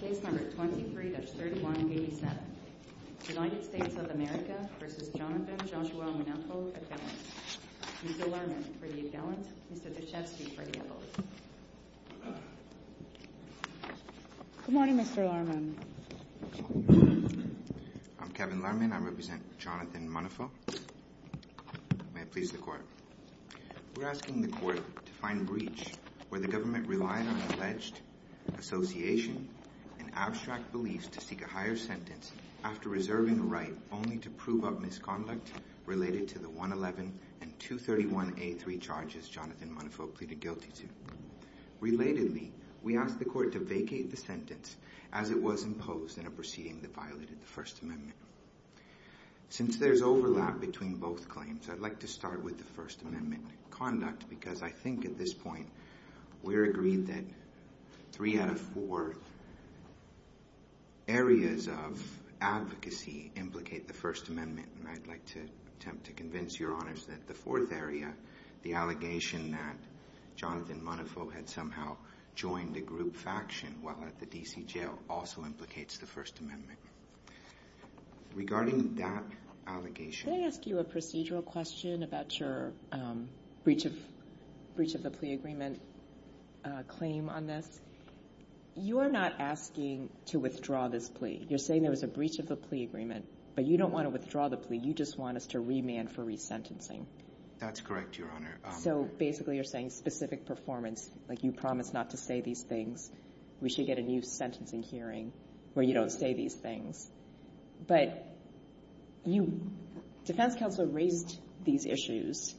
23-31-87 United States of America v. Jonathan Joshua Munafo, a felon. Mr. Lerman, for the a felon. Mr. Dashefsky, for the a felon. Good morning, Mr. Lerman. I'm Kevin Lerman. I represent Jonathan Munafo. May it please the Court. We're asking the Court to find breach where the government relied on alleged association and abstract beliefs to seek a higher sentence after reserving a right only to prove up misconduct related to the 111 and 231A3 charges Jonathan Munafo pleaded guilty to. Relatedly, we ask the Court to vacate the sentence as it was imposed in a proceeding that violated the First Amendment. Since there's overlap between both claims, I'd like to start with the First Amendment conduct because I think at this point we're agreed that three out of four areas of advocacy implicate the First Amendment, and I'd like to attempt to convince Your Honors that the fourth area, the allegation that Jonathan Munafo had somehow joined a group faction while at the D.C. jail, also implicates the First Amendment. Regarding that allegation... Can I ask you a procedural question about your breach of the plea agreement claim on this? You are not asking to withdraw this plea. You're saying there was a breach of the plea agreement, but you don't want to withdraw the plea. You just want us to remand for resentencing. That's correct, Your Honor. So basically you're saying specific performance, like you promised not to say these things, we should get a new sentencing hearing where you don't say these things. But you — defense counsel raised these issues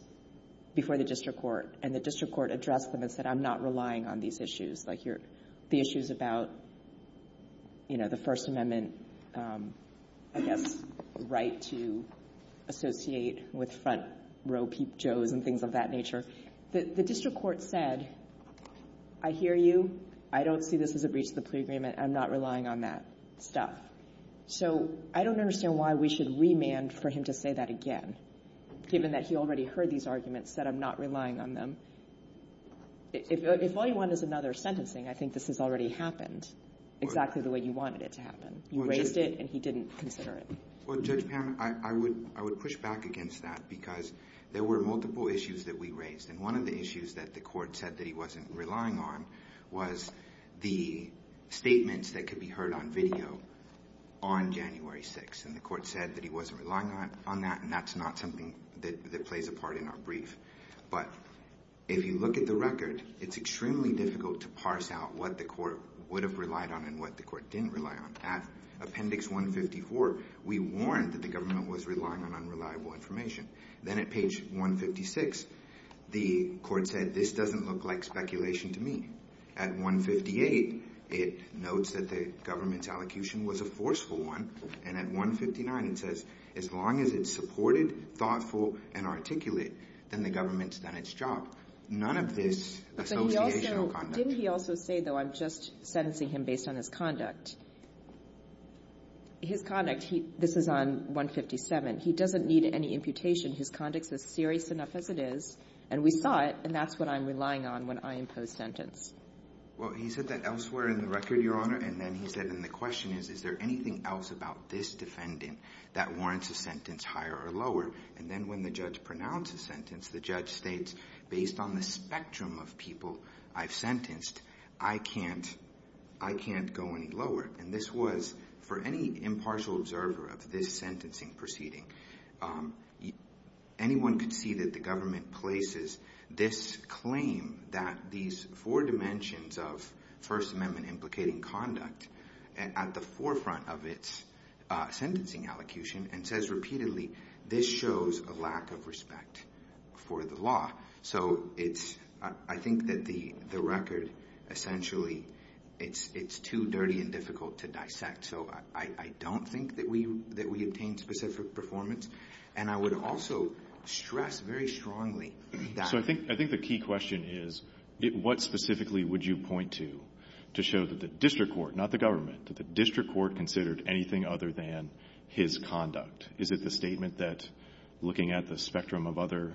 before the district court, and the district court addressed them and said, I'm not relying on these issues. Like, you're — the issues about, you know, the First Amendment, I guess, right to associate with front row peep Joes and things of that nature. The district court said, I hear you. I don't see this as a breach of the plea agreement. I'm not relying on that stuff. So I don't understand why we should remand for him to say that again, given that he already heard these arguments, said, I'm not relying on them. If all you want is another sentencing, I think this has already happened exactly the way you wanted it to happen. You raised it, and he didn't consider it. Well, Judge Pan, I would push back against that because there were multiple issues that we raised. And one of the issues that the court said that he wasn't relying on was the statements that could be heard on video on January 6th. And the court said that he wasn't relying on that, and that's not something that plays a part in our brief. But if you look at the record, it's extremely difficult to parse out what the court would have relied on and what the court didn't rely on. At appendix 154, we warned that the government was relying on unreliable information. Then at page 156, the court said, this doesn't look like speculation to me. At 158, it notes that the government's allocution was a forceful one. And at 159, it says, as long as it's supported, thoughtful, and articulate, then the government's done its job. None of this associational conduct. Didn't he also say, though, I'm just sentencing him based on his conduct? His conduct, this is on 157, he doesn't need any imputation. His conduct's as serious enough as it is, and we saw it, and that's what I'm relying on when I impose sentence. Well, he said that elsewhere in the record, Your Honor, and then he said, and the question is, is there anything else about this defendant that warrants a sentence higher or lower? And then when the judge pronounces sentence, the judge states, based on the spectrum of people I've sentenced, I can't go any lower. And this was, for any impartial observer of this sentencing proceeding, anyone could see that the government places this claim that these four dimensions of First Amendment implicating conduct at the forefront of its sentencing allocution and says repeatedly, this shows a lack of respect for the law. So it's, I think that the record essentially, it's too dirty and difficult to dissect. So I don't think that we obtained specific performance, and I would also stress very strongly that. So I think the key question is, what specifically would you point to to show that the district court, not the government, that the district court considered anything other than his conduct? Is it the statement that, looking at the spectrum of other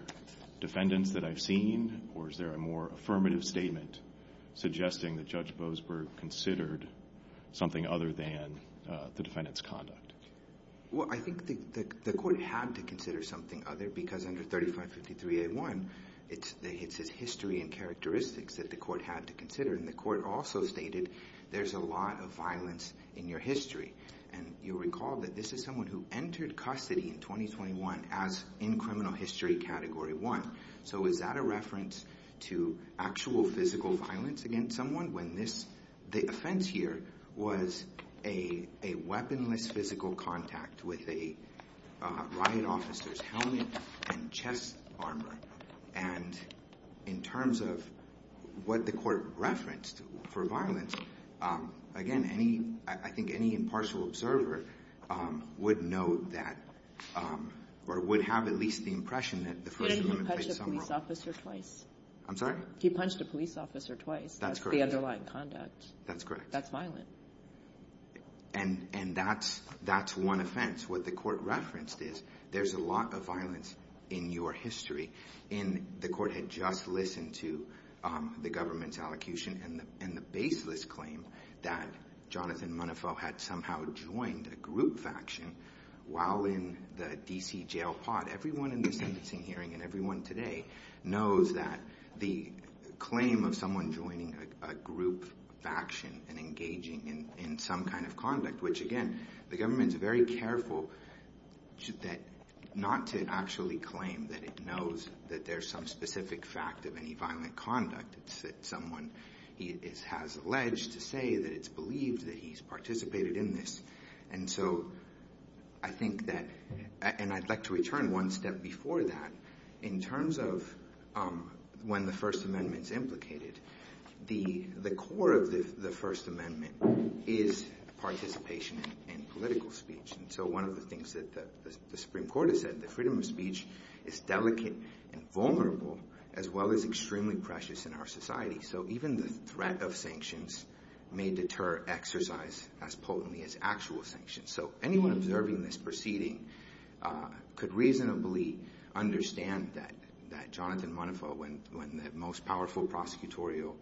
defendants that I've seen, or is there a more affirmative statement suggesting that Judge Boasberg considered something other than the defendant's conduct? Well, I think the court had to consider something other because under 3553A1, it's his history and characteristics that the court had to consider. And the court also stated there's a lot of violence in your history. And you'll recall that this is someone who entered custody in 2021 as in criminal history category one. So is that a reference to actual physical violence against someone when this, the offense here, was a weaponless physical contact with a riot officer's helmet and chest armor? And in terms of what the court referenced for violence, again, any, I think any impartial observer would know that, or would have at least the impression that the person. He didn't even punch a police officer twice. I'm sorry? He punched a police officer twice. That's correct. That's the underlying conduct. That's correct. That's violent. And that's one offense. What the court referenced is there's a lot of violence in your history. And the court had just listened to the government's allocution and the baseless claim that Jonathan Munafo had somehow joined a group faction while in the D.C. jail pod. Everyone in the sentencing hearing and everyone today knows that the claim of someone joining a group faction and engaging in some kind of conduct, which, again, the government's very careful not to actually claim that it knows that there's some specific fact of any violent conduct. It's that someone has alleged to say that it's believed that he's participated in this. And so I think that, and I'd like to return one step before that. In terms of when the First Amendment's implicated, the core of the First Amendment is participation in political speech. And so one of the things that the Supreme Court has said, the freedom of speech is delicate and vulnerable as well as extremely precious in our society. So even the threat of sanctions may deter exercise as potently as actual sanctions. So anyone observing this proceeding could reasonably understand that Jonathan Munafo, when the most powerful prosecutorial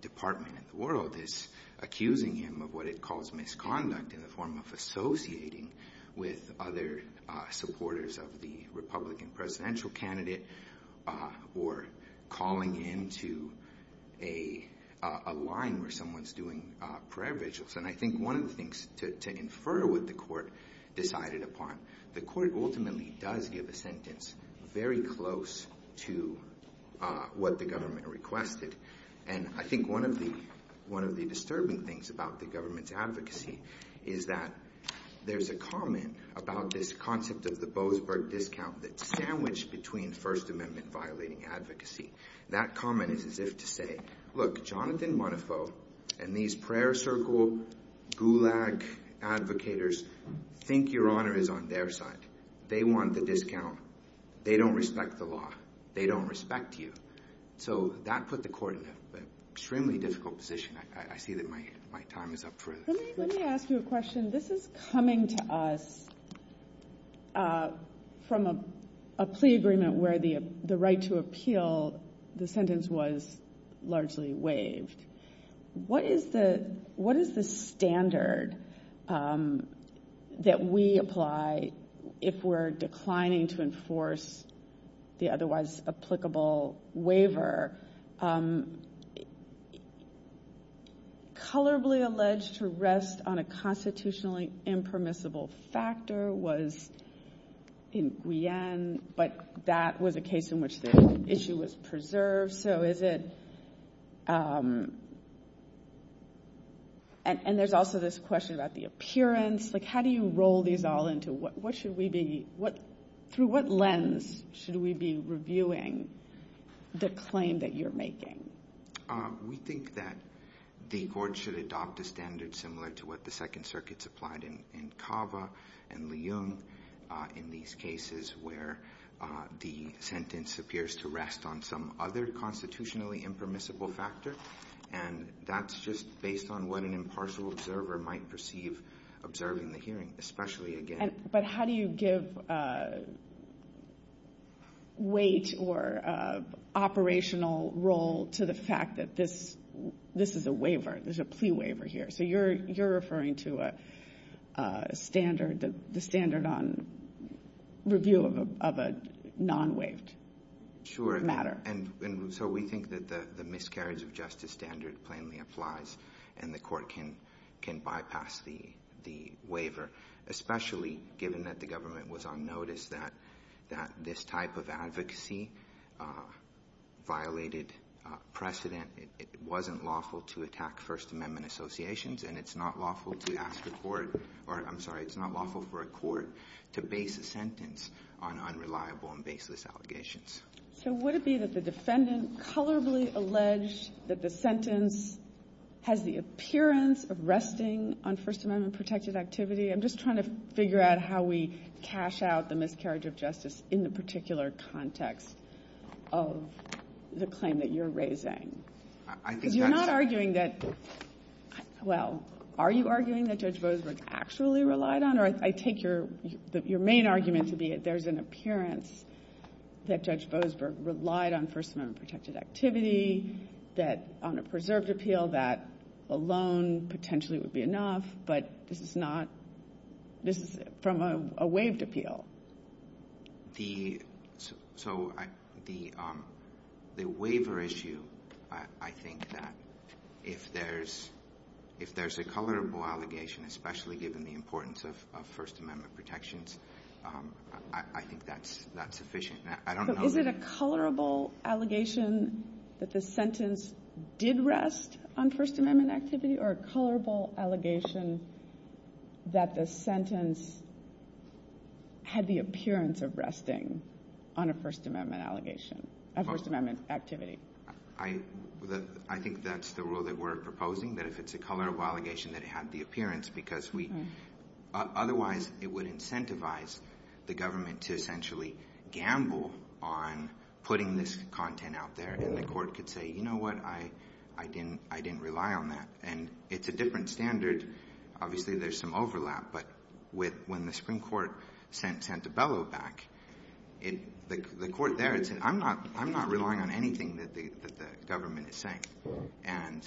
department in the world is accusing him of what it calls misconduct in the form of associating with other supporters of the Republican presidential candidate or calling into a line where someone's doing prayer vigils. And I think one of the things to infer what the court decided upon, the court ultimately does give a sentence very close to what the government requested. And I think one of the disturbing things about the government's advocacy is that there's a comment about this concept of the Boasberg discount that's sandwiched between First Amendment-violating advocacy. That comment is as if to say, look, Jonathan Munafo and these prayer circle gulag advocators think your honor is on their side. They want the discount. They don't respect the law. They don't respect you. So that put the court in an extremely difficult position. I see that my time is up for this. Let me ask you a question. This is coming to us from a plea agreement where the right to appeal, the sentence was largely waived. What is the standard that we apply if we're declining to enforce the otherwise applicable waiver? Colorably alleged to rest on a constitutionally impermissible factor was in Guyenne, but that was a case in which the issue was preserved. So is it ‑‑ and there's also this question about the appearance. Like, how do you roll these all into what should we be ‑‑ through what lens should we be reviewing the claim that you're making? We think that the court should adopt a standard similar to what the Second Circuit supplied in Cava and Leung in these cases where the sentence appears to rest on some other constitutionally impermissible factor, and that's just based on what an impartial observer might perceive observing the hearing, especially again. But how do you give weight or operational role to the fact that this is a waiver, this is a plea waiver here? So you're referring to a standard, the standard on review of a non‑waived matter. And so we think that the miscarriage of justice standard plainly applies and the court can bypass the waiver, especially given that the government was on notice that this type of advocacy violated precedent. It wasn't lawful to attack First Amendment associations and it's not lawful to ask the court, or I'm sorry, it's not lawful for a court to base a sentence on unreliable and baseless allegations. So would it be that the defendant colorably alleged that the sentence has the appearance of resting on First Amendment protected activity? I'm just trying to figure out how we cash out the miscarriage of justice in the particular context of the claim that you're raising. Because you're not arguing that, well, are you arguing that Judge Boasberg actually relied on, or I take your main argument to be that there's an appearance that Judge Boasberg relied on First Amendment protected activity, that on a preserved appeal that alone potentially would be enough, but this is not, this is from a waived appeal. So the waiver issue, I think that if there's a colorable allegation, especially given the importance of First Amendment protections, I think that's sufficient. Is it a colorable allegation that the sentence did rest on First Amendment activity or a colorable allegation that the sentence had the appearance of resting on a First Amendment allegation, a First Amendment activity? I think that's the rule that we're proposing, that if it's a colorable allegation that it had the appearance, because otherwise it would incentivize the government to essentially gamble on putting this content out there, and the court could say, you know what, I didn't rely on that, and it's a different standard. Obviously there's some overlap, but when the Supreme Court sent Santabello back, the court there had said, I'm not relying on anything that the government is saying, and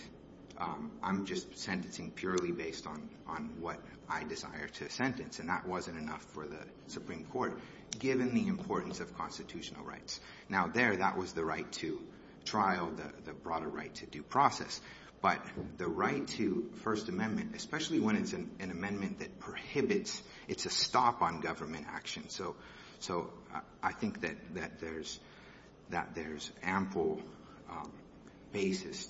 I'm just sentencing purely based on what I desire to sentence, and that wasn't enough for the Supreme Court, given the importance of constitutional rights. Now, there, that was the right to trial, the broader right to due process. But the right to First Amendment, especially when it's an amendment that prohibits – it's a stop on government action. So I think that there's ample basis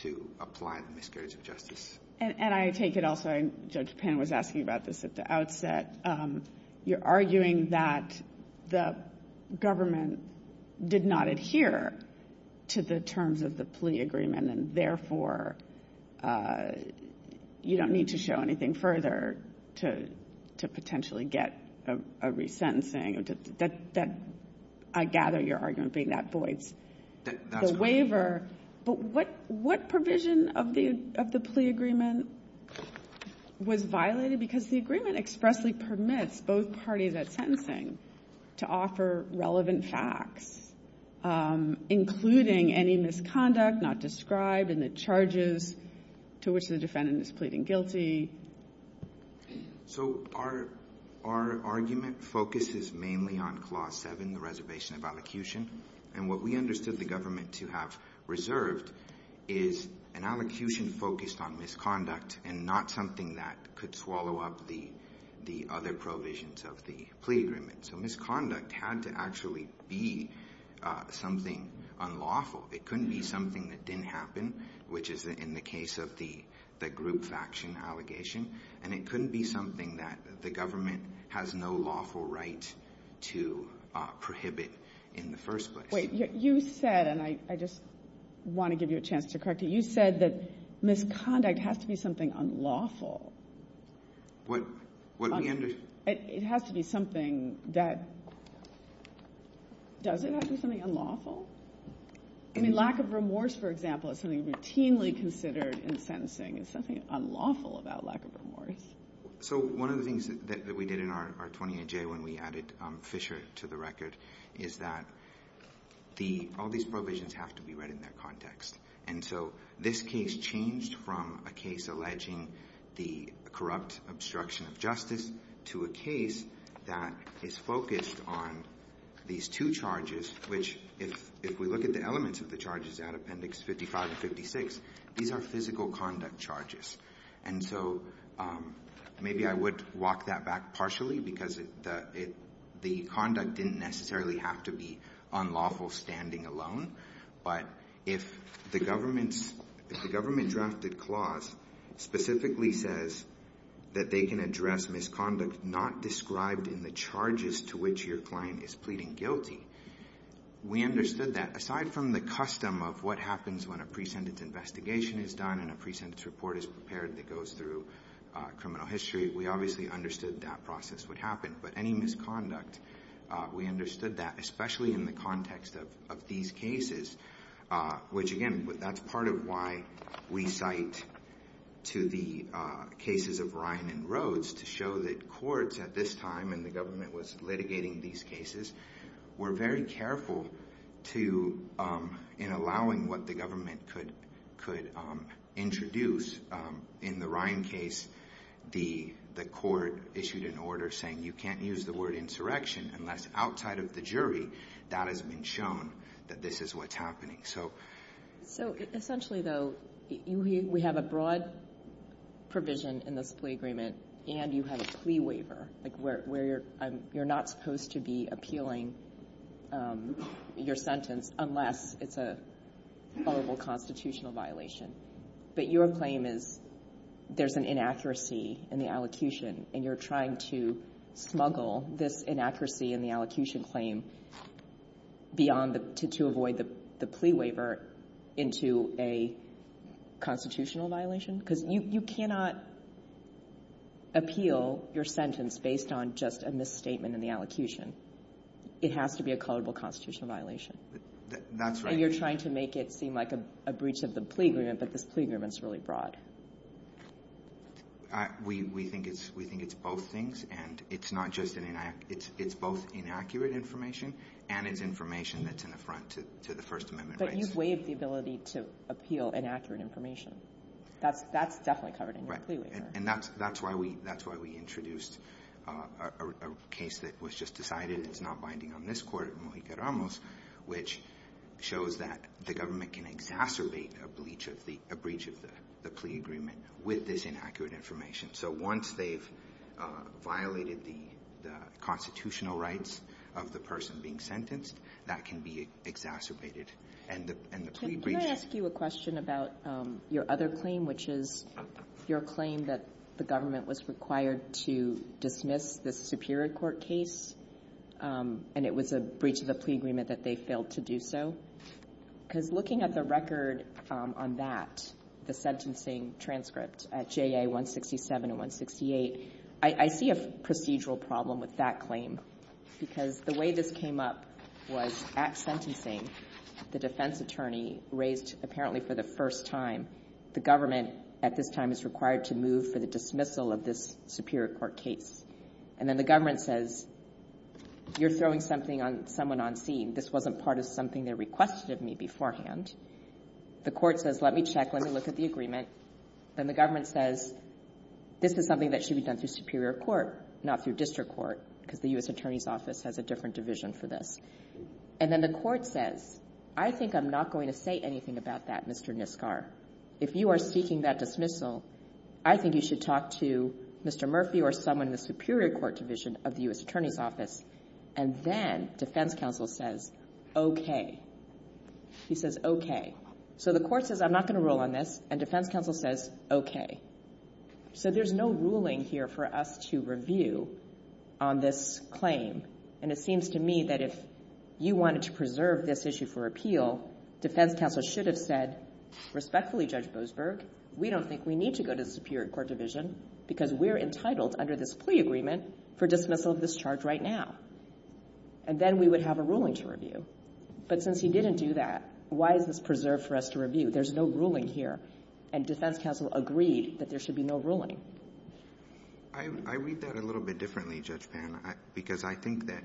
to apply the miscarriage of justice. And I take it also, and Judge Pan was asking about this at the outset, you're arguing that the government did not adhere to the terms of the plea agreement, and therefore you don't need to show anything further to potentially get a resentencing. I gather your argument being that voids the waiver. But what provision of the plea agreement was violated? Because the agreement expressly permits both parties at sentencing to offer relevant facts, including any misconduct not described in the charges to which the defendant is pleading guilty. So our argument focuses mainly on Clause 7, the reservation of allocution. And what we understood the government to have reserved is an allocution focused on misconduct and not something that could swallow up the other provisions of the plea agreement. So misconduct had to actually be something unlawful. It couldn't be something that didn't happen, which is in the case of the group faction allegation. And it couldn't be something that the government has no lawful right to prohibit in the first place. Wait. You said, and I just want to give you a chance to correct you, you said that misconduct has to be something unlawful. What we understood – It has to be something that – does it have to be something unlawful? I mean, lack of remorse, for example, is something routinely considered in sentencing. It's something unlawful about lack of remorse. So one of the things that we did in our 28J when we added Fisher to the record is that the – all these provisions have to be read in their context. And so this case changed from a case alleging the corrupt obstruction of justice to a case that is focused on these two charges, which if we look at the elements of the charges out of Appendix 55 and 56, these are physical conduct charges. And so maybe I would walk that back partially because the conduct didn't necessarily have to be unlawful standing alone. But if the government's – if the government-drafted clause specifically says that they can address misconduct not described in the charges to which your client is pleading guilty, we understood that. Aside from the custom of what happens when a pre-sentence investigation is done and a pre-sentence report is prepared that goes through criminal history, we obviously understood that process would happen. But any misconduct, we understood that, especially in the context of these cases, which, again, that's part of why we cite to the cases of Ryan and Rhodes, to show that courts at this time, and the government was litigating these cases, were very careful in allowing what the government could introduce. In the Ryan case, the court issued an order saying you can't use the word insurrection unless outside of the jury that has been shown that this is what's happening. So essentially, though, we have a broad provision in this plea agreement, and you have a plea waiver, like where you're not supposed to be appealing your sentence unless it's a horrible constitutional violation. But your claim is there's an inaccuracy in the allocution, and you're trying to smuggle this inaccuracy in the allocution claim beyond the – the plea waiver into a constitutional violation? Because you cannot appeal your sentence based on just a misstatement in the allocution. It has to be a culpable constitutional violation. That's right. And you're trying to make it seem like a breach of the plea agreement, but this plea agreement's really broad. We think it's both things, and it's not just an – it's both inaccurate information and it's information that's in the front to the First Amendment rights. But you've waived the ability to appeal inaccurate information. That's – that's definitely covered in your plea waiver. And that's – that's why we – that's why we introduced a case that was just decided is not binding on this court, Mojica-Ramos, which shows that the government can exacerbate a breach of the – a breach of the plea agreement with this inaccurate information. So once they've violated the – the constitutional rights of the person being sentenced, that can be exacerbated, and the – and the plea breaches. Can I ask you a question about your other claim, which is your claim that the government was required to dismiss the Superior Court case, and it was a breach of the plea agreement that they failed to do so? Because looking at the record on that, the sentencing transcript at JA-167 and 168, I see a procedural problem with that claim, because the way this came up was at sentencing, the defense attorney raised, apparently for the first time, the government at this time is required to move for the dismissal of this Superior Court case. And then the government says, you're throwing something on – someone on scene. This wasn't part of something they requested of me beforehand. The court says, let me check, let me look at the agreement. Then the government says, this is something that should be done through Superior Court, not through District Court, because the U.S. Attorney's Office has a different division for this. And then the court says, I think I'm not going to say anything about that, Mr. Nisgar. If you are seeking that dismissal, I think you should talk to Mr. Murphy or someone in the Superior Court division of the U.S. Attorney's Office. And then defense counsel says, OK. He says, OK. So the court says, I'm not going to rule on this. And defense counsel says, OK. So there's no ruling here for us to review on this claim. And it seems to me that if you wanted to preserve this issue for appeal, defense counsel should have said, respectfully, Judge Boasberg, we don't think we need to go to the Superior Court division, because we're entitled under this dismissal of this charge right now. And then we would have a ruling to review. But since he didn't do that, why is this preserved for us to review? There's no ruling here. And defense counsel agreed that there should be no ruling. Nisgar I read that a little bit differently, Judge Pan. Because I think that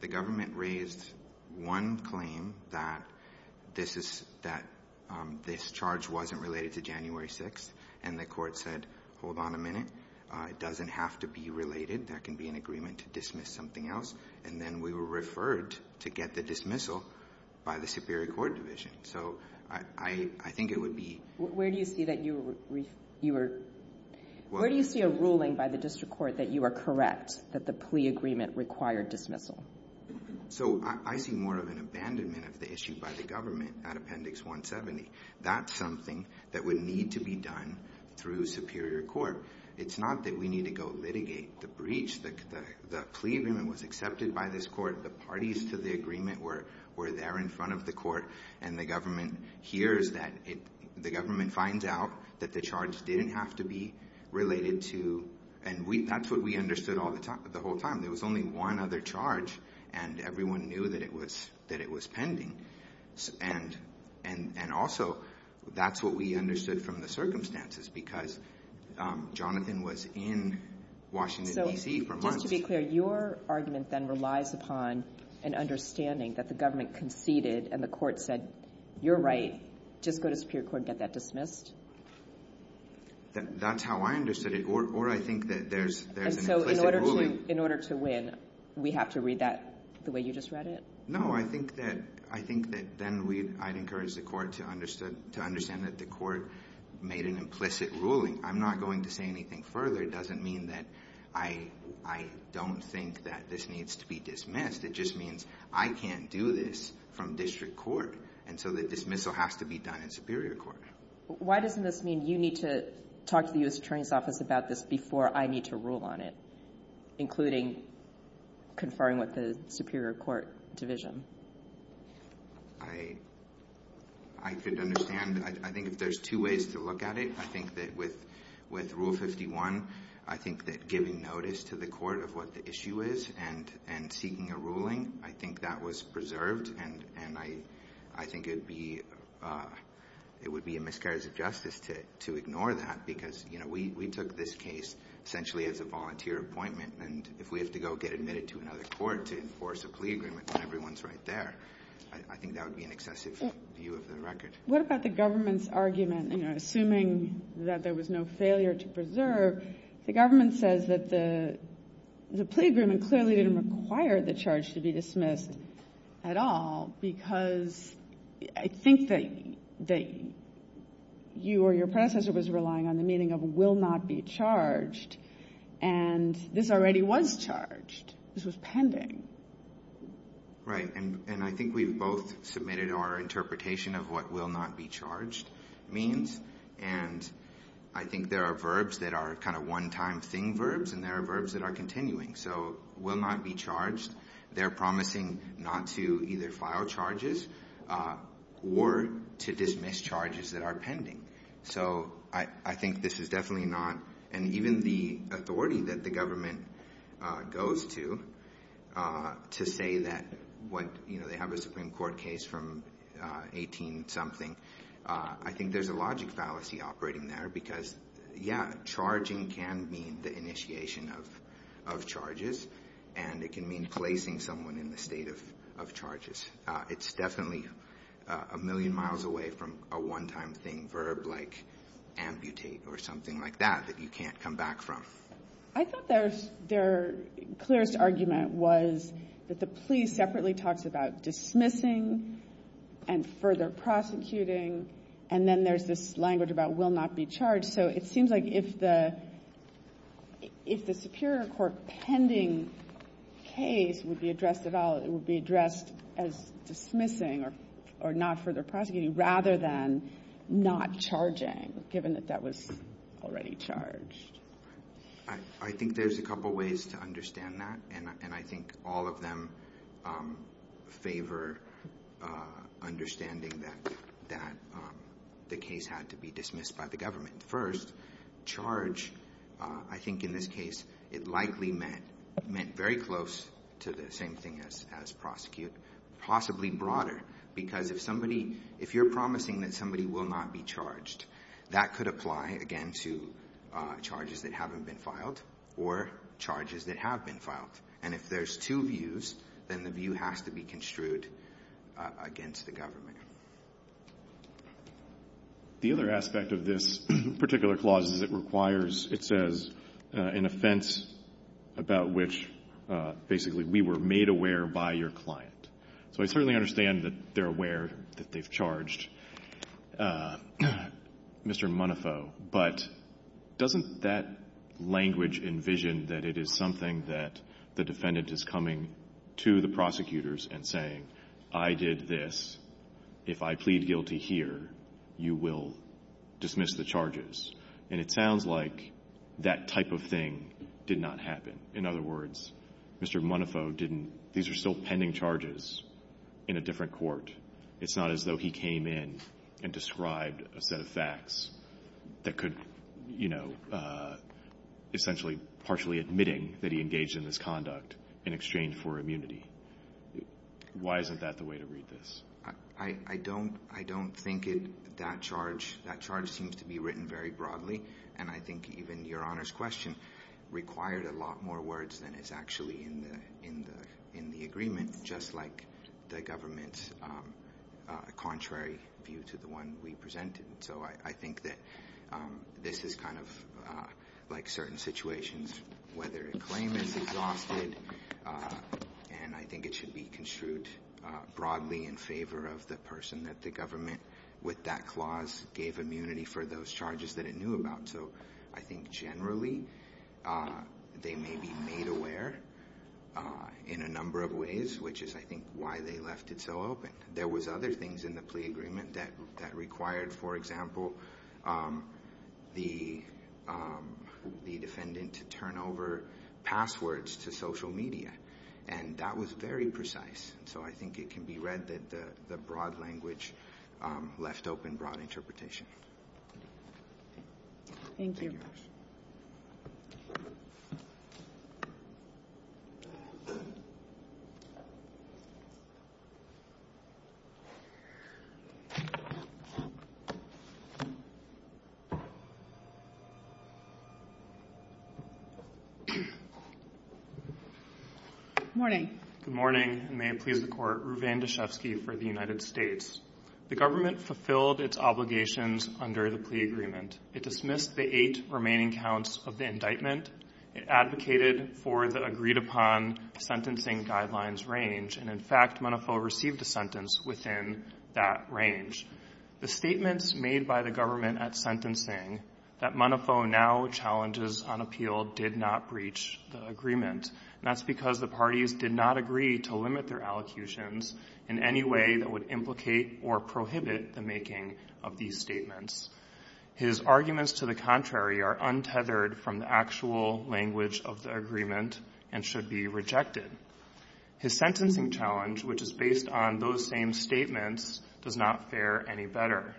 the government raised one claim that this is that this charge wasn't related to January 6th, and the court said, hold on a minute, it doesn't have to be related. There can be an agreement to dismiss something else. And then we were referred to get the dismissal by the Superior Court division. So I think it would be Where do you see a ruling by the district court that you are correct that the plea agreement required dismissal? Nisgar So I see more of an abandonment of the issue by the government at Appendix 170. That's something that would need to be done through Superior Court. It's not that we need to go litigate the breach. The plea agreement was accepted by this court. The parties to the agreement were there in front of the court. And the government hears that. The government finds out that the charge didn't have to be related to. And that's what we understood all the time, the whole time. There was only one other charge, and everyone knew that it was pending. And also, that's what we understood from the circumstances, because Jonathan was in Washington, D.C. for months. Kagan So just to be clear, your argument then relies upon an understanding that the government conceded and the court said, you're right, just go to Superior Court and get that dismissed? Nisgar That's how I understood it. Or I think that there's an implicit ruling. Kagan And so in order to win, we have to read that the way you just read it? Nisgar No. I think that then I'd encourage the court to understand that the court made an implicit ruling. I'm not going to say anything further. It doesn't mean that I don't think that this needs to be dismissed. It just means I can't do this from district court. And so the dismissal has to be done in Superior Court. Kagan Why doesn't this mean you need to talk to the U.S. Attorney's Office about this before I need to rule on it, including conferring with the Superior Court division? Nisgar I could understand. I think if there's two ways to look at it, I think that with Rule 51, I think that giving notice to the court of what the issue is and seeking a ruling, I think that was preserved and I think it would be a miscarriage of justice to ignore that because, you know, we took this case essentially as a volunteer appointment and if we have to go get admitted to another court to enforce a plea agreement when everyone's right there, I think that would be an excessive view of the record. Kagan What about the government's argument, you know, assuming that there was no failure to preserve, the government says that the plea agreement clearly didn't require the charge to be dismissed at all because I think that you or your predecessor was relying on the meaning of will not be charged and this already was charged. This was pending. Nisgar Right. And I think we've both submitted our interpretation of what will not be charged means and I think there are verbs that are kind of one-time thing verbs and there are verbs that are continuing. So will not be charged, they're promising not to either file charges or to dismiss charges that are pending. So I think this is definitely not and even the authority that the government goes to to say that what, you know, they have a Supreme Court case from 18 something, I think there's a logic fallacy operating there because, yeah, charging can mean the initiation of charges and it can mean placing someone in the state of charges. It's definitely a million miles away from a one-time thing verb like amputate or something like that that you can't come back from. I thought their clearest argument was that the plea separately talks about dismissing and further prosecuting and then there's this language about will not be charged. So it seems like if the Superior Court pending case would be addressed at all, it's dismissing or not further prosecuting rather than not charging given that that was already charged. I think there's a couple ways to understand that and I think all of them favor understanding that the case had to be dismissed by the government. First, charge, I think in this case, it likely meant very close to the same thing as prosecute, possibly broader, because if somebody, if you're promising that somebody will not be charged, that could apply, again, to charges that haven't been filed or charges that have been filed. And if there's two views, then the view has to be construed against the government. The other aspect of this particular clause is it requires, it says, an offense about which basically we were made aware by your client. So I certainly understand that they're aware that they've charged Mr. Monofo, but doesn't that language envision that it is something that the defendant is coming to the prosecutors and saying, I did this. If I plead guilty here, you will dismiss the charges. And it sounds like that type of thing did not happen. In other words, Mr. Monofo didn't, these are still pending charges in a different court. It's not as though he came in and described a set of facts that could, you know, essentially partially admitting that he engaged in this conduct in exchange for immunity. Why isn't that the way to read this? I don't think that charge seems to be written very broadly. And I think even Your Honor's question required a lot more words than is actually in the agreement, just like the government's contrary view to the one we presented. So I think that this is kind of like certain situations, whether a claim is exhausted and I think it should be construed broadly in favor of the person that the government with that clause gave immunity for those charges that it knew about. So I think generally they may be made aware in a number of ways, which is, I think, why they left it so open. There was other things in the plea agreement that required, for example, the defendant to turn over passwords to social media. And that was very precise. So I think it can be read that the broad language left open broad interpretation. Thank you. Thank you very much. Good morning. Good morning. May it please the Court. Ruvane Deshefsky for the United States. The government fulfilled its obligations under the plea agreement. It dismissed the eight remaining counts of the indictment. It advocated for the agreed-upon sentencing guidelines range. And, in fact, Monofo received a sentence within that range. The statements made by the government at sentencing that Monofo now challenges on appeal did not breach the agreement. And that's because the parties did not agree to limit their allocutions in any way that would implicate or prohibit the making of these statements. His arguments to the contrary are untethered from the actual language of the agreement and should be rejected. His sentencing challenge, which is based on those same statements, does not fare any better.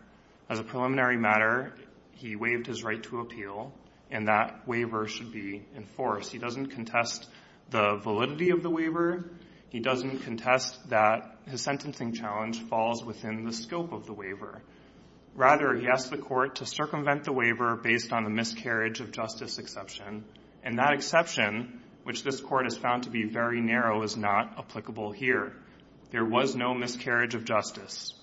As a preliminary matter, he waived his right to appeal, and that waiver should be enforced. He doesn't contest the validity of the waiver. He doesn't contest that his sentencing challenge falls within the scope of the waiver. Rather, he asked the Court to circumvent the waiver based on the miscarriage of justice exception. And that exception, which this Court has found to be very narrow, is not applicable here. There was no miscarriage of justice.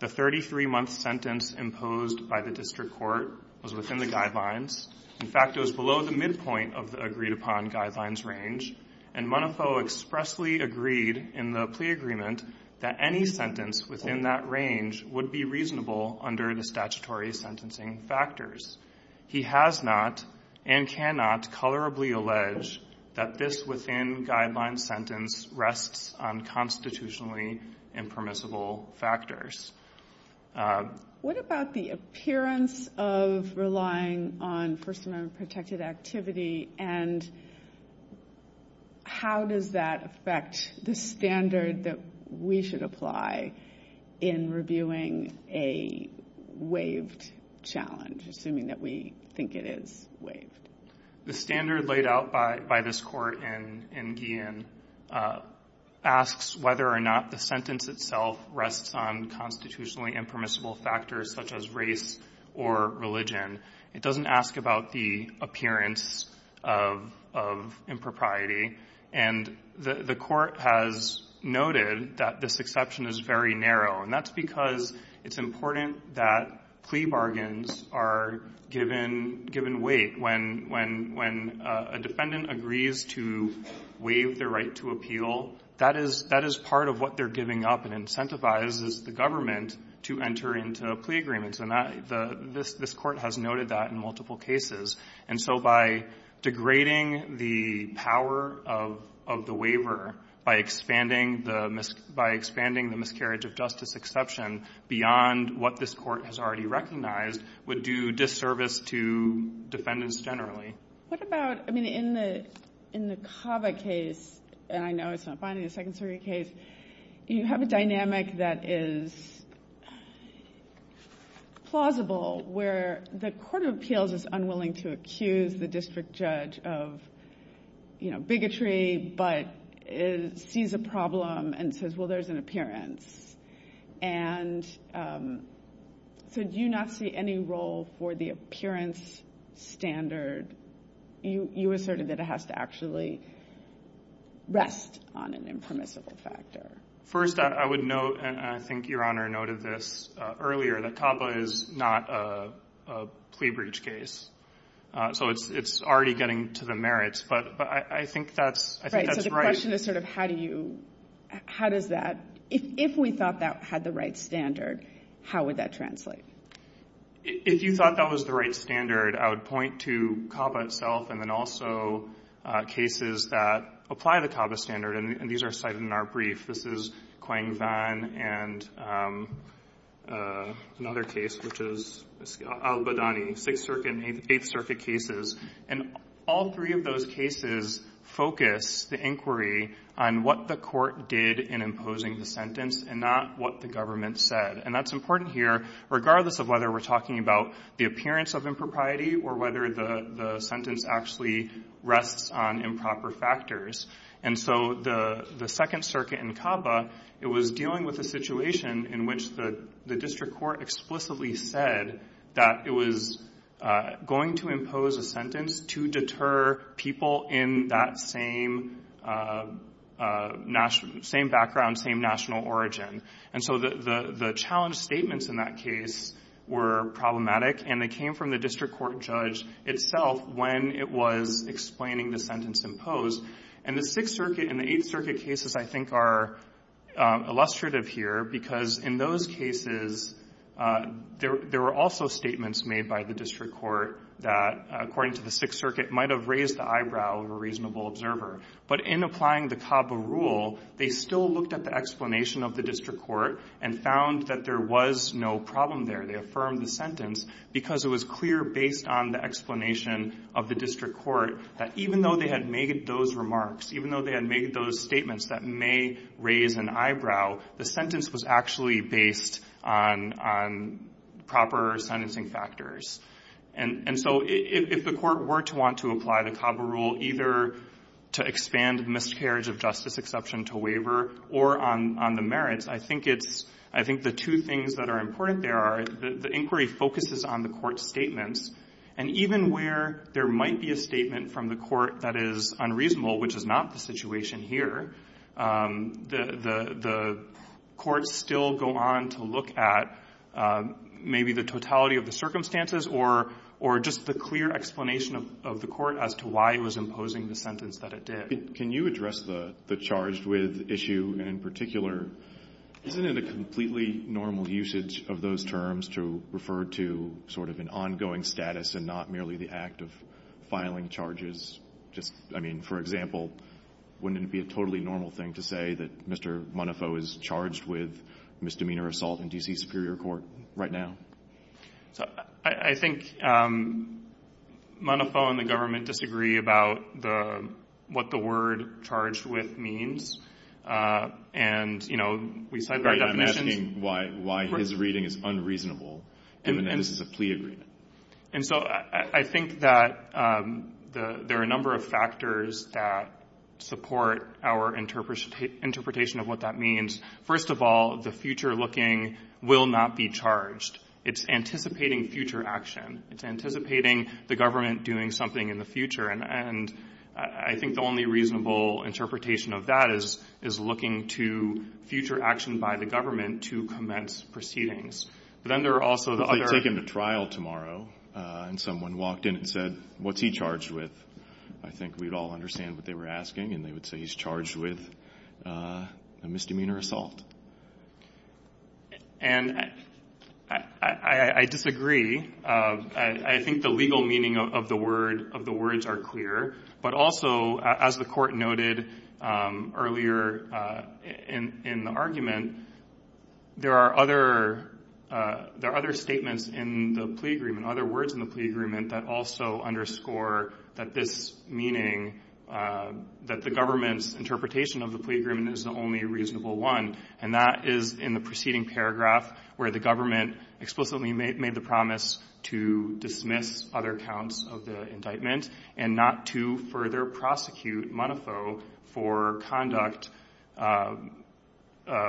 The 33-month sentence imposed by the district court was within the guidelines. In fact, it was below the midpoint of the agreed-upon guidelines range. And Monofo expressly agreed in the plea agreement that any sentence within that range would be reasonable under the statutory sentencing factors. He has not and cannot colorably allege that this within-guidelines sentence rests on constitutionally impermissible factors. What about the appearance of relying on First Amendment-protected activity and how does that affect the standard that we should apply in reviewing a waived challenge, assuming that we think it is waived? The standard laid out by this Court in Guillen asks whether or not the sentence itself rests on constitutionally impermissible factors such as race or religion. It doesn't ask about the appearance of impropriety. And the Court has noted that this exception is very narrow. And that's because it's important that plea bargains are given weight. When a defendant agrees to waive their right to appeal, that is part of what they're giving up and incentivizes the government to enter into plea agreements. And this Court has noted that in multiple cases. And so by degrading the power of the waiver, by expanding the miscarriage of justice exception beyond what this Court has already recognized, would do disservice to defendants generally. What about, I mean, in the Cava case, and I know it's not fine in the Second Circuit case, you have a dynamic that is plausible where the court of appeals is unwilling to accuse the district judge of, you know, bigotry, but sees a problem and says, well, there's an appearance. And so do you not see any role for the appearance standard? You asserted that it has to actually rest on an impermissible factor. First, I would note, and I think Your Honor noted this earlier, that Cava is not a plea breach case. So it's already getting to the merits. But I think that's right. The question is sort of how do you, how does that, if we thought that had the right standard, how would that translate? If you thought that was the right standard, I would point to Cava itself and then also cases that apply the Cava standard. And these are cited in our brief. This is Quang Van and another case, which is Al-Badani, Sixth Circuit and Eighth Circuit cases. And all three of those cases focus the inquiry on what the court did in imposing the sentence and not what the government said. And that's important here, regardless of whether we're talking about the appearance of impropriety or whether the sentence actually rests on improper factors. And so the Second Circuit in Cava, it was dealing with a situation in which the district court explicitly said that it was going to impose a sentence to deter people in that same background, same national origin. And so the challenge statements in that case were problematic. And they came from the district court judge itself when it was explaining the sentence imposed. And the Sixth Circuit and the Eighth Circuit cases, I think, are illustrative here, because in those cases, there were also statements made by the district court that, according to the Sixth Circuit, might have raised the eyebrow of a reasonable observer. But in applying the Cava rule, they still looked at the explanation of the district court and found that there was no problem there. They affirmed the sentence because it was clear, based on the explanation of the district court, that even though they had made those remarks, even though they had made those statements that may raise an eyebrow, the sentence was actually based on proper sentencing factors. And so if the Court were to want to apply the Cava rule either to expand miscarriage of justice exception to waiver or on the merits, I think it's — I think the two things that are important there are the inquiry focuses on the Court's statements, and even where there might be a statement from the Court that is unreasonable, which is not the situation here, the courts still go on to look at maybe the totality of the circumstances or just the clear explanation of the Court as to why it was imposing the sentence that it did. Can you address the charged with issue in particular? Isn't it a completely normal usage of those terms to refer to sort of an ongoing status and not merely the act of filing charges? Just, I mean, for example, wouldn't it be a totally normal thing to say that Mr. Monofo is charged with misdemeanor assault in D.C. Superior Court right now? I think Monofo and the government disagree about what the word charged with means. And, you know, we cite our definitions. I'm not questioning why his reading is unreasonable, given that this is a plea agreement. And so I think that there are a number of factors that support our interpretation of what that means. First of all, the future looking will not be charged. It's anticipating future action. It's anticipating the government doing something in the future. And I think the only reasonable interpretation of that is looking to future action by the government to commence proceedings. But then there are also the other. If they take him to trial tomorrow and someone walked in and said, what's he charged with, I think we'd all understand what they were asking. And they would say he's charged with a misdemeanor assault. And I disagree. I think the legal meaning of the words are clear. But also, as the Court noted earlier in the argument, there are other statements in the plea agreement, other words in the plea agreement, that also underscore that this meaning, that the government's interpretation of the plea agreement is the only reasonable one. And that is in the preceding paragraph, where the government explicitly made the promise to dismiss other counts of the indictment and not to further prosecute Montefiore for conduct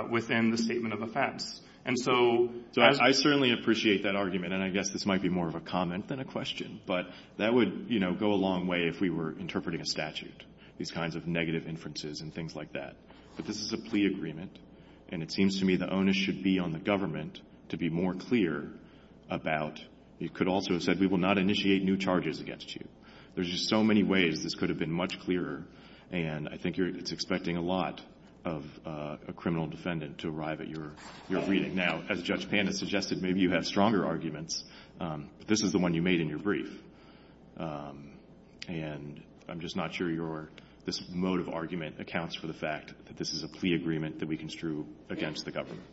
within the statement of offense. And so as — So I certainly appreciate that argument. And I guess this might be more of a comment than a question. But that would, you know, go a long way if we were interpreting a statute, these kinds of negative inferences and things like that. But this is a plea agreement. And it seems to me the onus should be on the government to be more clear about — you could also have said we will not initiate new charges against you. There's just so many ways this could have been much clearer. And I think you're — it's expecting a lot of a criminal defendant to arrive at your reading. Now, as Judge Pan has suggested, maybe you have stronger arguments. But this is the one you made in your brief. And I'm just not sure your — this mode of argument accounts for the fact that this is a plea agreement that we construe against the government.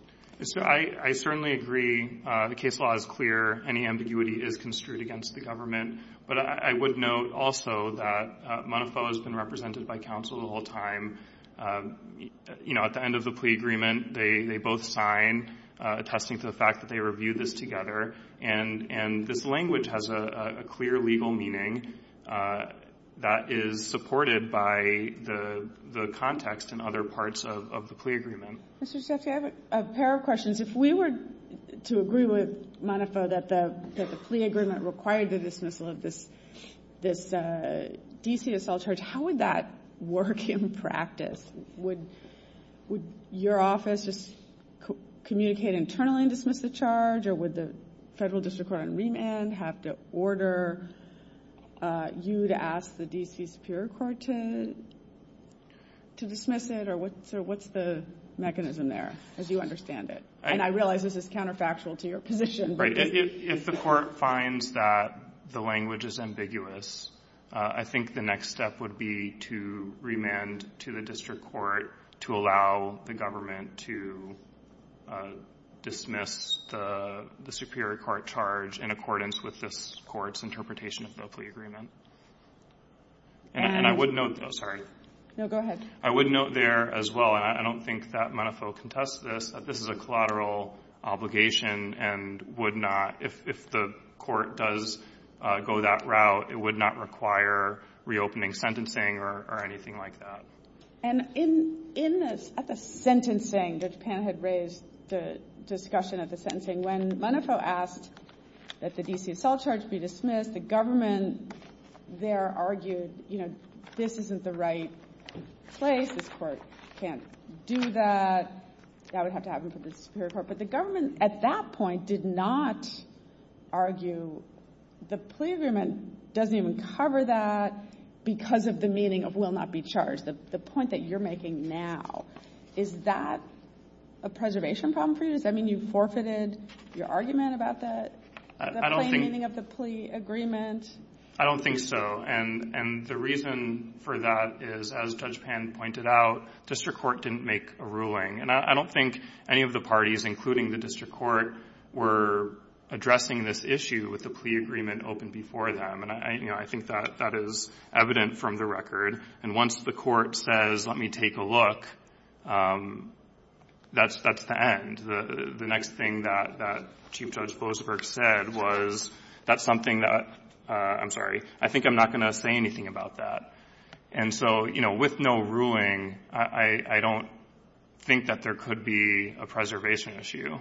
So I certainly agree. The case law is clear. Any ambiguity is construed against the government. But I would note also that Montefiore has been represented by counsel the whole time. You know, at the end of the plea agreement, they both sign, attesting to the fact that they reviewed this together. And this language has a clear legal meaning that is supported by the context and other parts of the plea agreement. Mr. Sheffield, I have a pair of questions. If we were to agree with Montefiore that the plea agreement required the dismissal of this D.C. assault charge, how would that work in practice? Would your office just communicate internally and dismiss the charge, or would the Federal District Court on remand have to order you to ask the D.C. Superior Court to dismiss it? Or what's the mechanism there, as you understand it? And I realize this is counterfactual to your position. If the court finds that the language is ambiguous, I think the next step would be to remand to the district court to allow the government to dismiss the Superior Court charge in accordance with this court's interpretation of the plea agreement. And I would note, sorry. No, go ahead. I would note there as well, and I don't think that Montefiore contested this, that this is a collateral obligation and would not, if the court does go that route, it would not require reopening sentencing or anything like that. And in this, at the sentencing, Judge Pan had raised the discussion at the sentencing, when Montefiore asked that the D.C. assault charge be dismissed, the government there argued, you know, this isn't the right place. This court can't do that. That would have to happen for the Superior Court. But the government at that point did not argue the plea agreement doesn't even cover that because of the meaning of will not be charged, the point that you're making now. Is that a preservation problem for you? Does that mean you forfeited your argument about that? I don't think. The plain meaning of the plea agreement. I don't think so. And the reason for that is, as Judge Pan pointed out, district court didn't make a ruling. And I don't think any of the parties, including the district court, were addressing this issue with the plea agreement open before them. And, you know, I think that that is evident from the record. And once the court says, let me take a look, that's the end. The next thing that Chief Judge Blosberg said was, that's something that — I'm sorry. I think I'm not going to say anything about that. And so, you know, with no ruling, I don't think that there could be a preservation issue.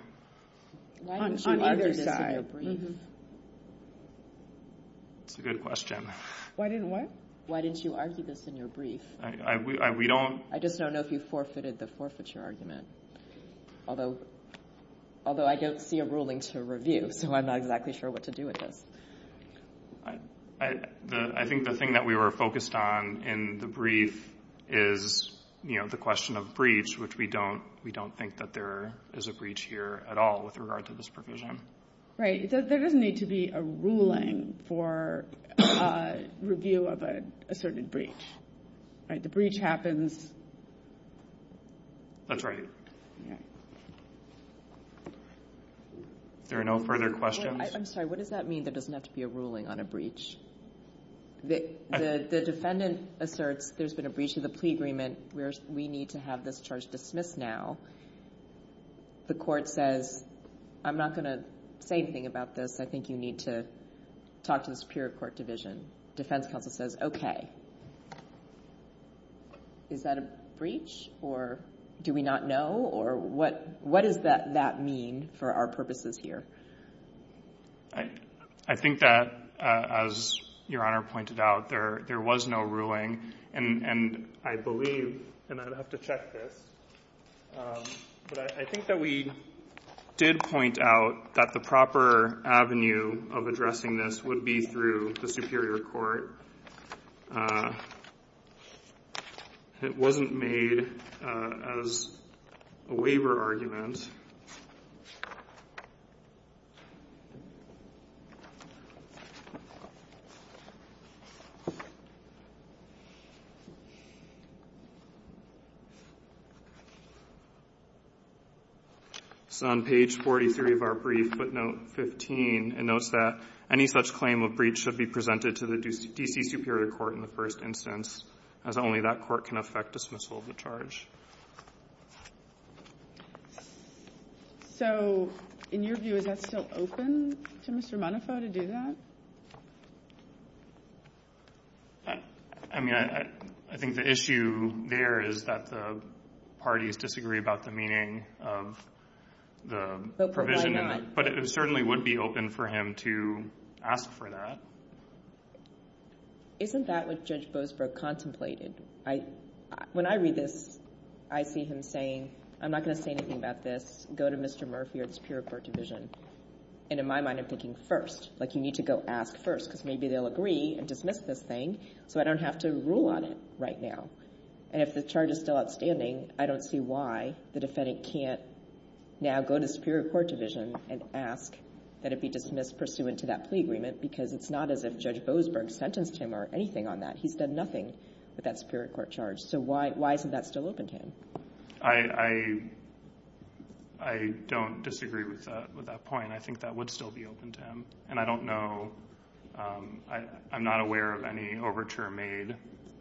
On either side. Why didn't you argue this in your brief? That's a good question. Why didn't what? Why didn't you argue this in your brief? We don't — I just don't know if you forfeited the forfeiture argument. Although, I don't see a ruling to review. So I'm not exactly sure what to do with this. I think the thing that we were focused on in the brief is, you know, the question of breach, which we don't think that there is a breach here at all with regard to this provision. Right. There doesn't need to be a ruling for review of an asserted breach. Right? The breach happens. That's right. Yeah. If there are no further questions — I'm sorry. What does that mean, there doesn't have to be a ruling on a breach? The defendant asserts there's been a breach of the plea agreement. We need to have this charge dismissed now. The court says, I'm not going to say anything about this. I think you need to talk to the Superior Court Division. Defense counsel says, okay. Is that a breach? Or do we not know? Or what does that mean for our purposes here? I think that, as Your Honor pointed out, there was no ruling. And I believe, and I'd have to check this, but I think that we did point out that the proper avenue of addressing this would be through the Superior Court. It wasn't made as a waiver argument. It's on page 43 of our brief, footnote 15. It notes that any such claim of breach should be presented to the D.C. Superior Court in the first instance, as only that court can affect dismissal of the charge. So, in your view, is that still open to Mr. Monafo to do that? I mean, I think the issue there is that the parties disagree about the meaning of the provision, but it certainly would be open for him to ask for that. Isn't that what Judge Boasbrook contemplated? When I read this, I see him saying, I'm not going to say anything about this. Go to Mr. Murphy or the Superior Court Division. And in my mind, I'm thinking, first. Like, you need to go ask first, because maybe they'll agree and dismiss this thing, so I don't have to rule on it right now. And if the charge is still outstanding, I don't see why the defendant can't now go to the Superior Court Division and ask that it be dismissed pursuant to that plea agreement, because it's not as if Judge Boasbrook sentenced him or anything on that. He's done nothing with that Superior Court charge. So why isn't that still open to him? I don't disagree with that point. I think that would still be open to him. And I don't know – I'm not aware of any overture made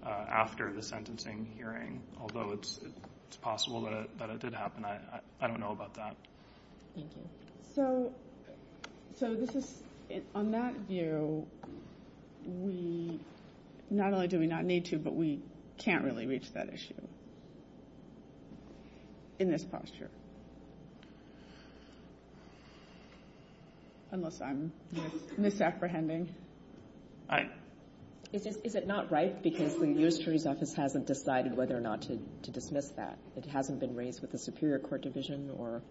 after the sentencing hearing, although it's possible that it did happen. I don't know about that. Thank you. So this is – on that view, we – not only do we not need to, but we can't really reach that issue. In this posture. Unless I'm misapprehending. Is it not right because the U.S. Jury's Office hasn't decided whether or not to dismiss that? It hasn't been raised with the Superior Court Division or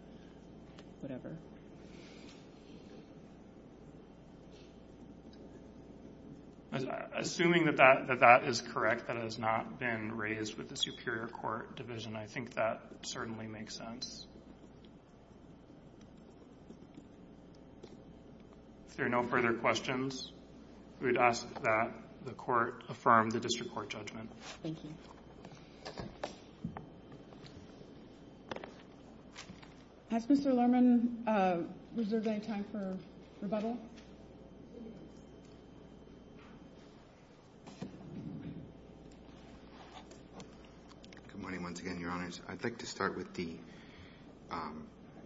whatever? Assuming that that is correct, that it has not been raised with the Superior Court Division, I think that certainly makes sense. If there are no further questions, we would ask that the Court affirm the District Court judgment. Thank you. Has Mr. Lerman reserved any time for rebuttal? Good morning once again, Your Honors. I'd like to start with the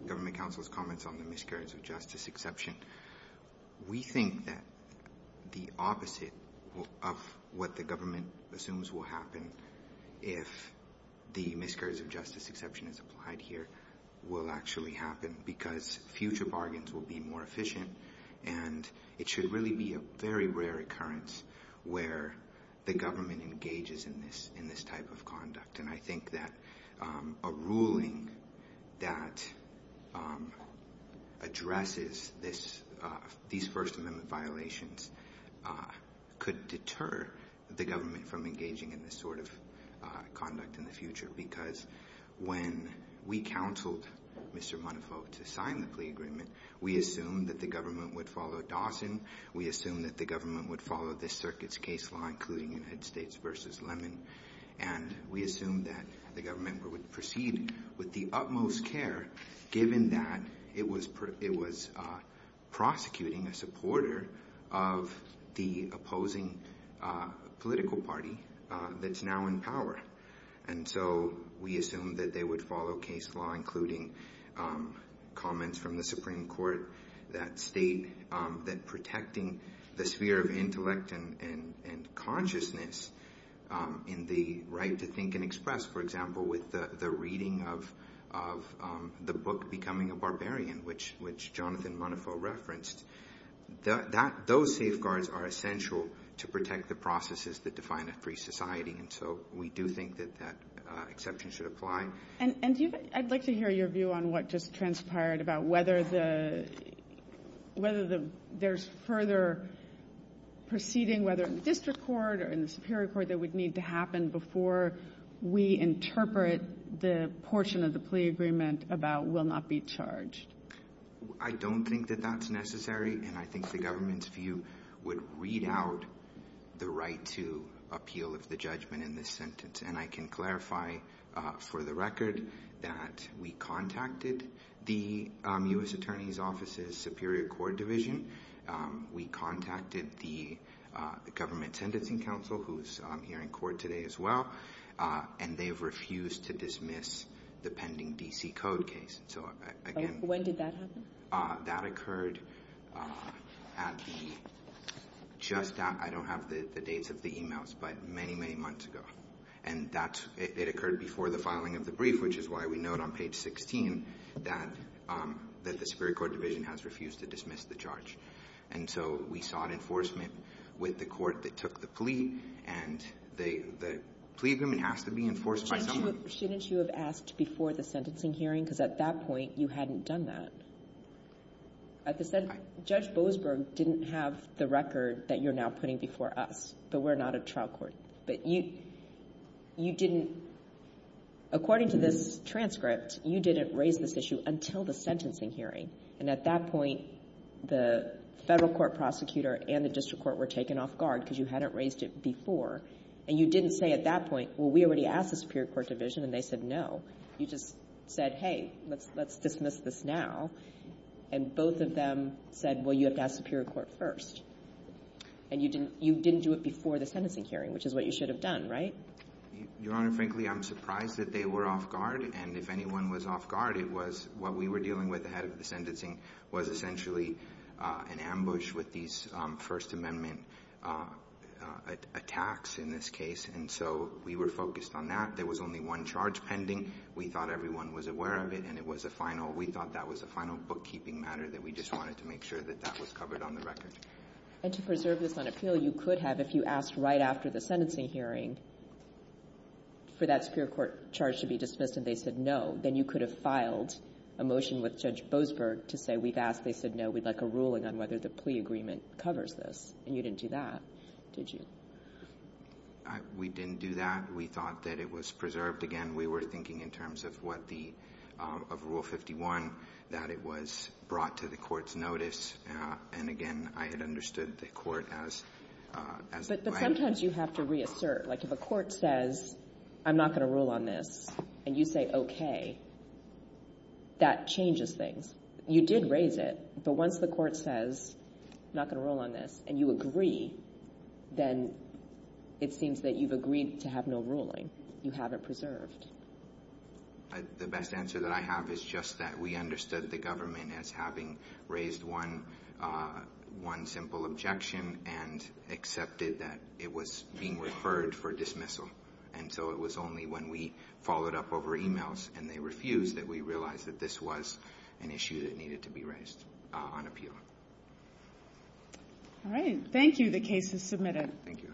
Government Council's comments on the miscarriage of justice exception. We think that the opposite of what the government assumes will happen if the miscarriage of justice exception is applied here will actually happen because future bargains will be more efficient and it should really be a very rare occurrence where the government engages in this type of conduct. And I think that a ruling that addresses these First Amendment violations could deter the government from engaging in this sort of conduct in the future because when we counseled Mr. Montefiore to sign the plea agreement, we assumed that the government would follow Dawson. We assumed that the government would follow this circuit's case law, including United States v. Lerman. And we assumed that the government would proceed with the utmost care given that it was prosecuting a supporter of the opposing political party that's now in power. And so we assumed that they would follow case law, including comments from the Supreme Court that state that protecting the sphere of intellect and consciousness in the right to think and express, for example, with the reading of the book Becoming a Barbarian, which Jonathan Montefiore referenced, those safeguards are essential to protect the processes that define a free society. And so we do think that that exception should apply. And I'd like to hear your view on what just transpired about whether there's further proceeding, whether in the district court or in the superior court, that would need to happen before we interpret the portion of the plea agreement about will not be charged. I don't think that that's necessary. And I think the government's view would read out the right to appeal of the judgment in this sentence. And I can clarify for the record that we contacted the U.S. Attorney's Office's Superior Court Division. We contacted the Government Sentencing Council, who's here in court today as well, and they've refused to dismiss the pending D.C. Code case. When did that happen? That occurred at the just out — I don't have the dates of the emails, but many, many months ago. And that's — it occurred before the filing of the brief, which is why we note on page 16 that the Superior Court Division has refused to dismiss the charge. And so we sought enforcement with the court that took the plea, and the plea agreement has to be enforced by someone. Shouldn't you have asked before the sentencing hearing? Because at that point, you hadn't done that. At the — Judge Boasberg didn't have the record that you're now putting before us, but we're not a trial court. But you — you didn't — according to this transcript, you didn't raise this issue until the sentencing hearing. And at that point, the federal court prosecutor and the district court were taken off guard because you hadn't raised it before. And you didn't say at that point, well, we already asked the Superior Court Division, and they said no. You just said, hey, let's — let's dismiss this now. And both of them said, well, you have to ask the Superior Court first. And you didn't — you didn't do it before the sentencing hearing, which is what you should have done, right? Your Honor, frankly, I'm surprised that they were off guard. And if anyone was off guard, it was — what we were dealing with ahead of the sentencing was essentially an ambush with these First Amendment attacks in this case, and so we were focused on that. There was only one charge pending. We thought everyone was aware of it, and it was a final — we thought that was a final bookkeeping matter, that we just wanted to make sure that that was covered on the record. And to preserve this on appeal, you could have, if you asked right after the sentencing hearing for that superior court charge to be dismissed and they said no, then you could have filed a motion with Judge Boasberg to say we've asked, they said no, we'd like a ruling on whether the plea agreement covers this. And you didn't do that, did you? We didn't do that. We thought that it was preserved. Again, we were thinking in terms of what the — of Rule 51, that it was brought to the Court's notice. And again, I had understood the Court as — But sometimes you have to reassert. Like if a court says I'm not going to rule on this and you say okay, that changes things. You did raise it, but once the court says I'm not going to rule on this and you agree, then it seems that you've agreed to have no ruling. You have it preserved. The best answer that I have is just that we understood the government as having raised one simple objection and accepted that it was being referred for dismissal. And so it was only when we followed up over e-mails and they refused that we realized that this was an issue that needed to be raised on appeal. All right. Thank you. The case is submitted. Thank you.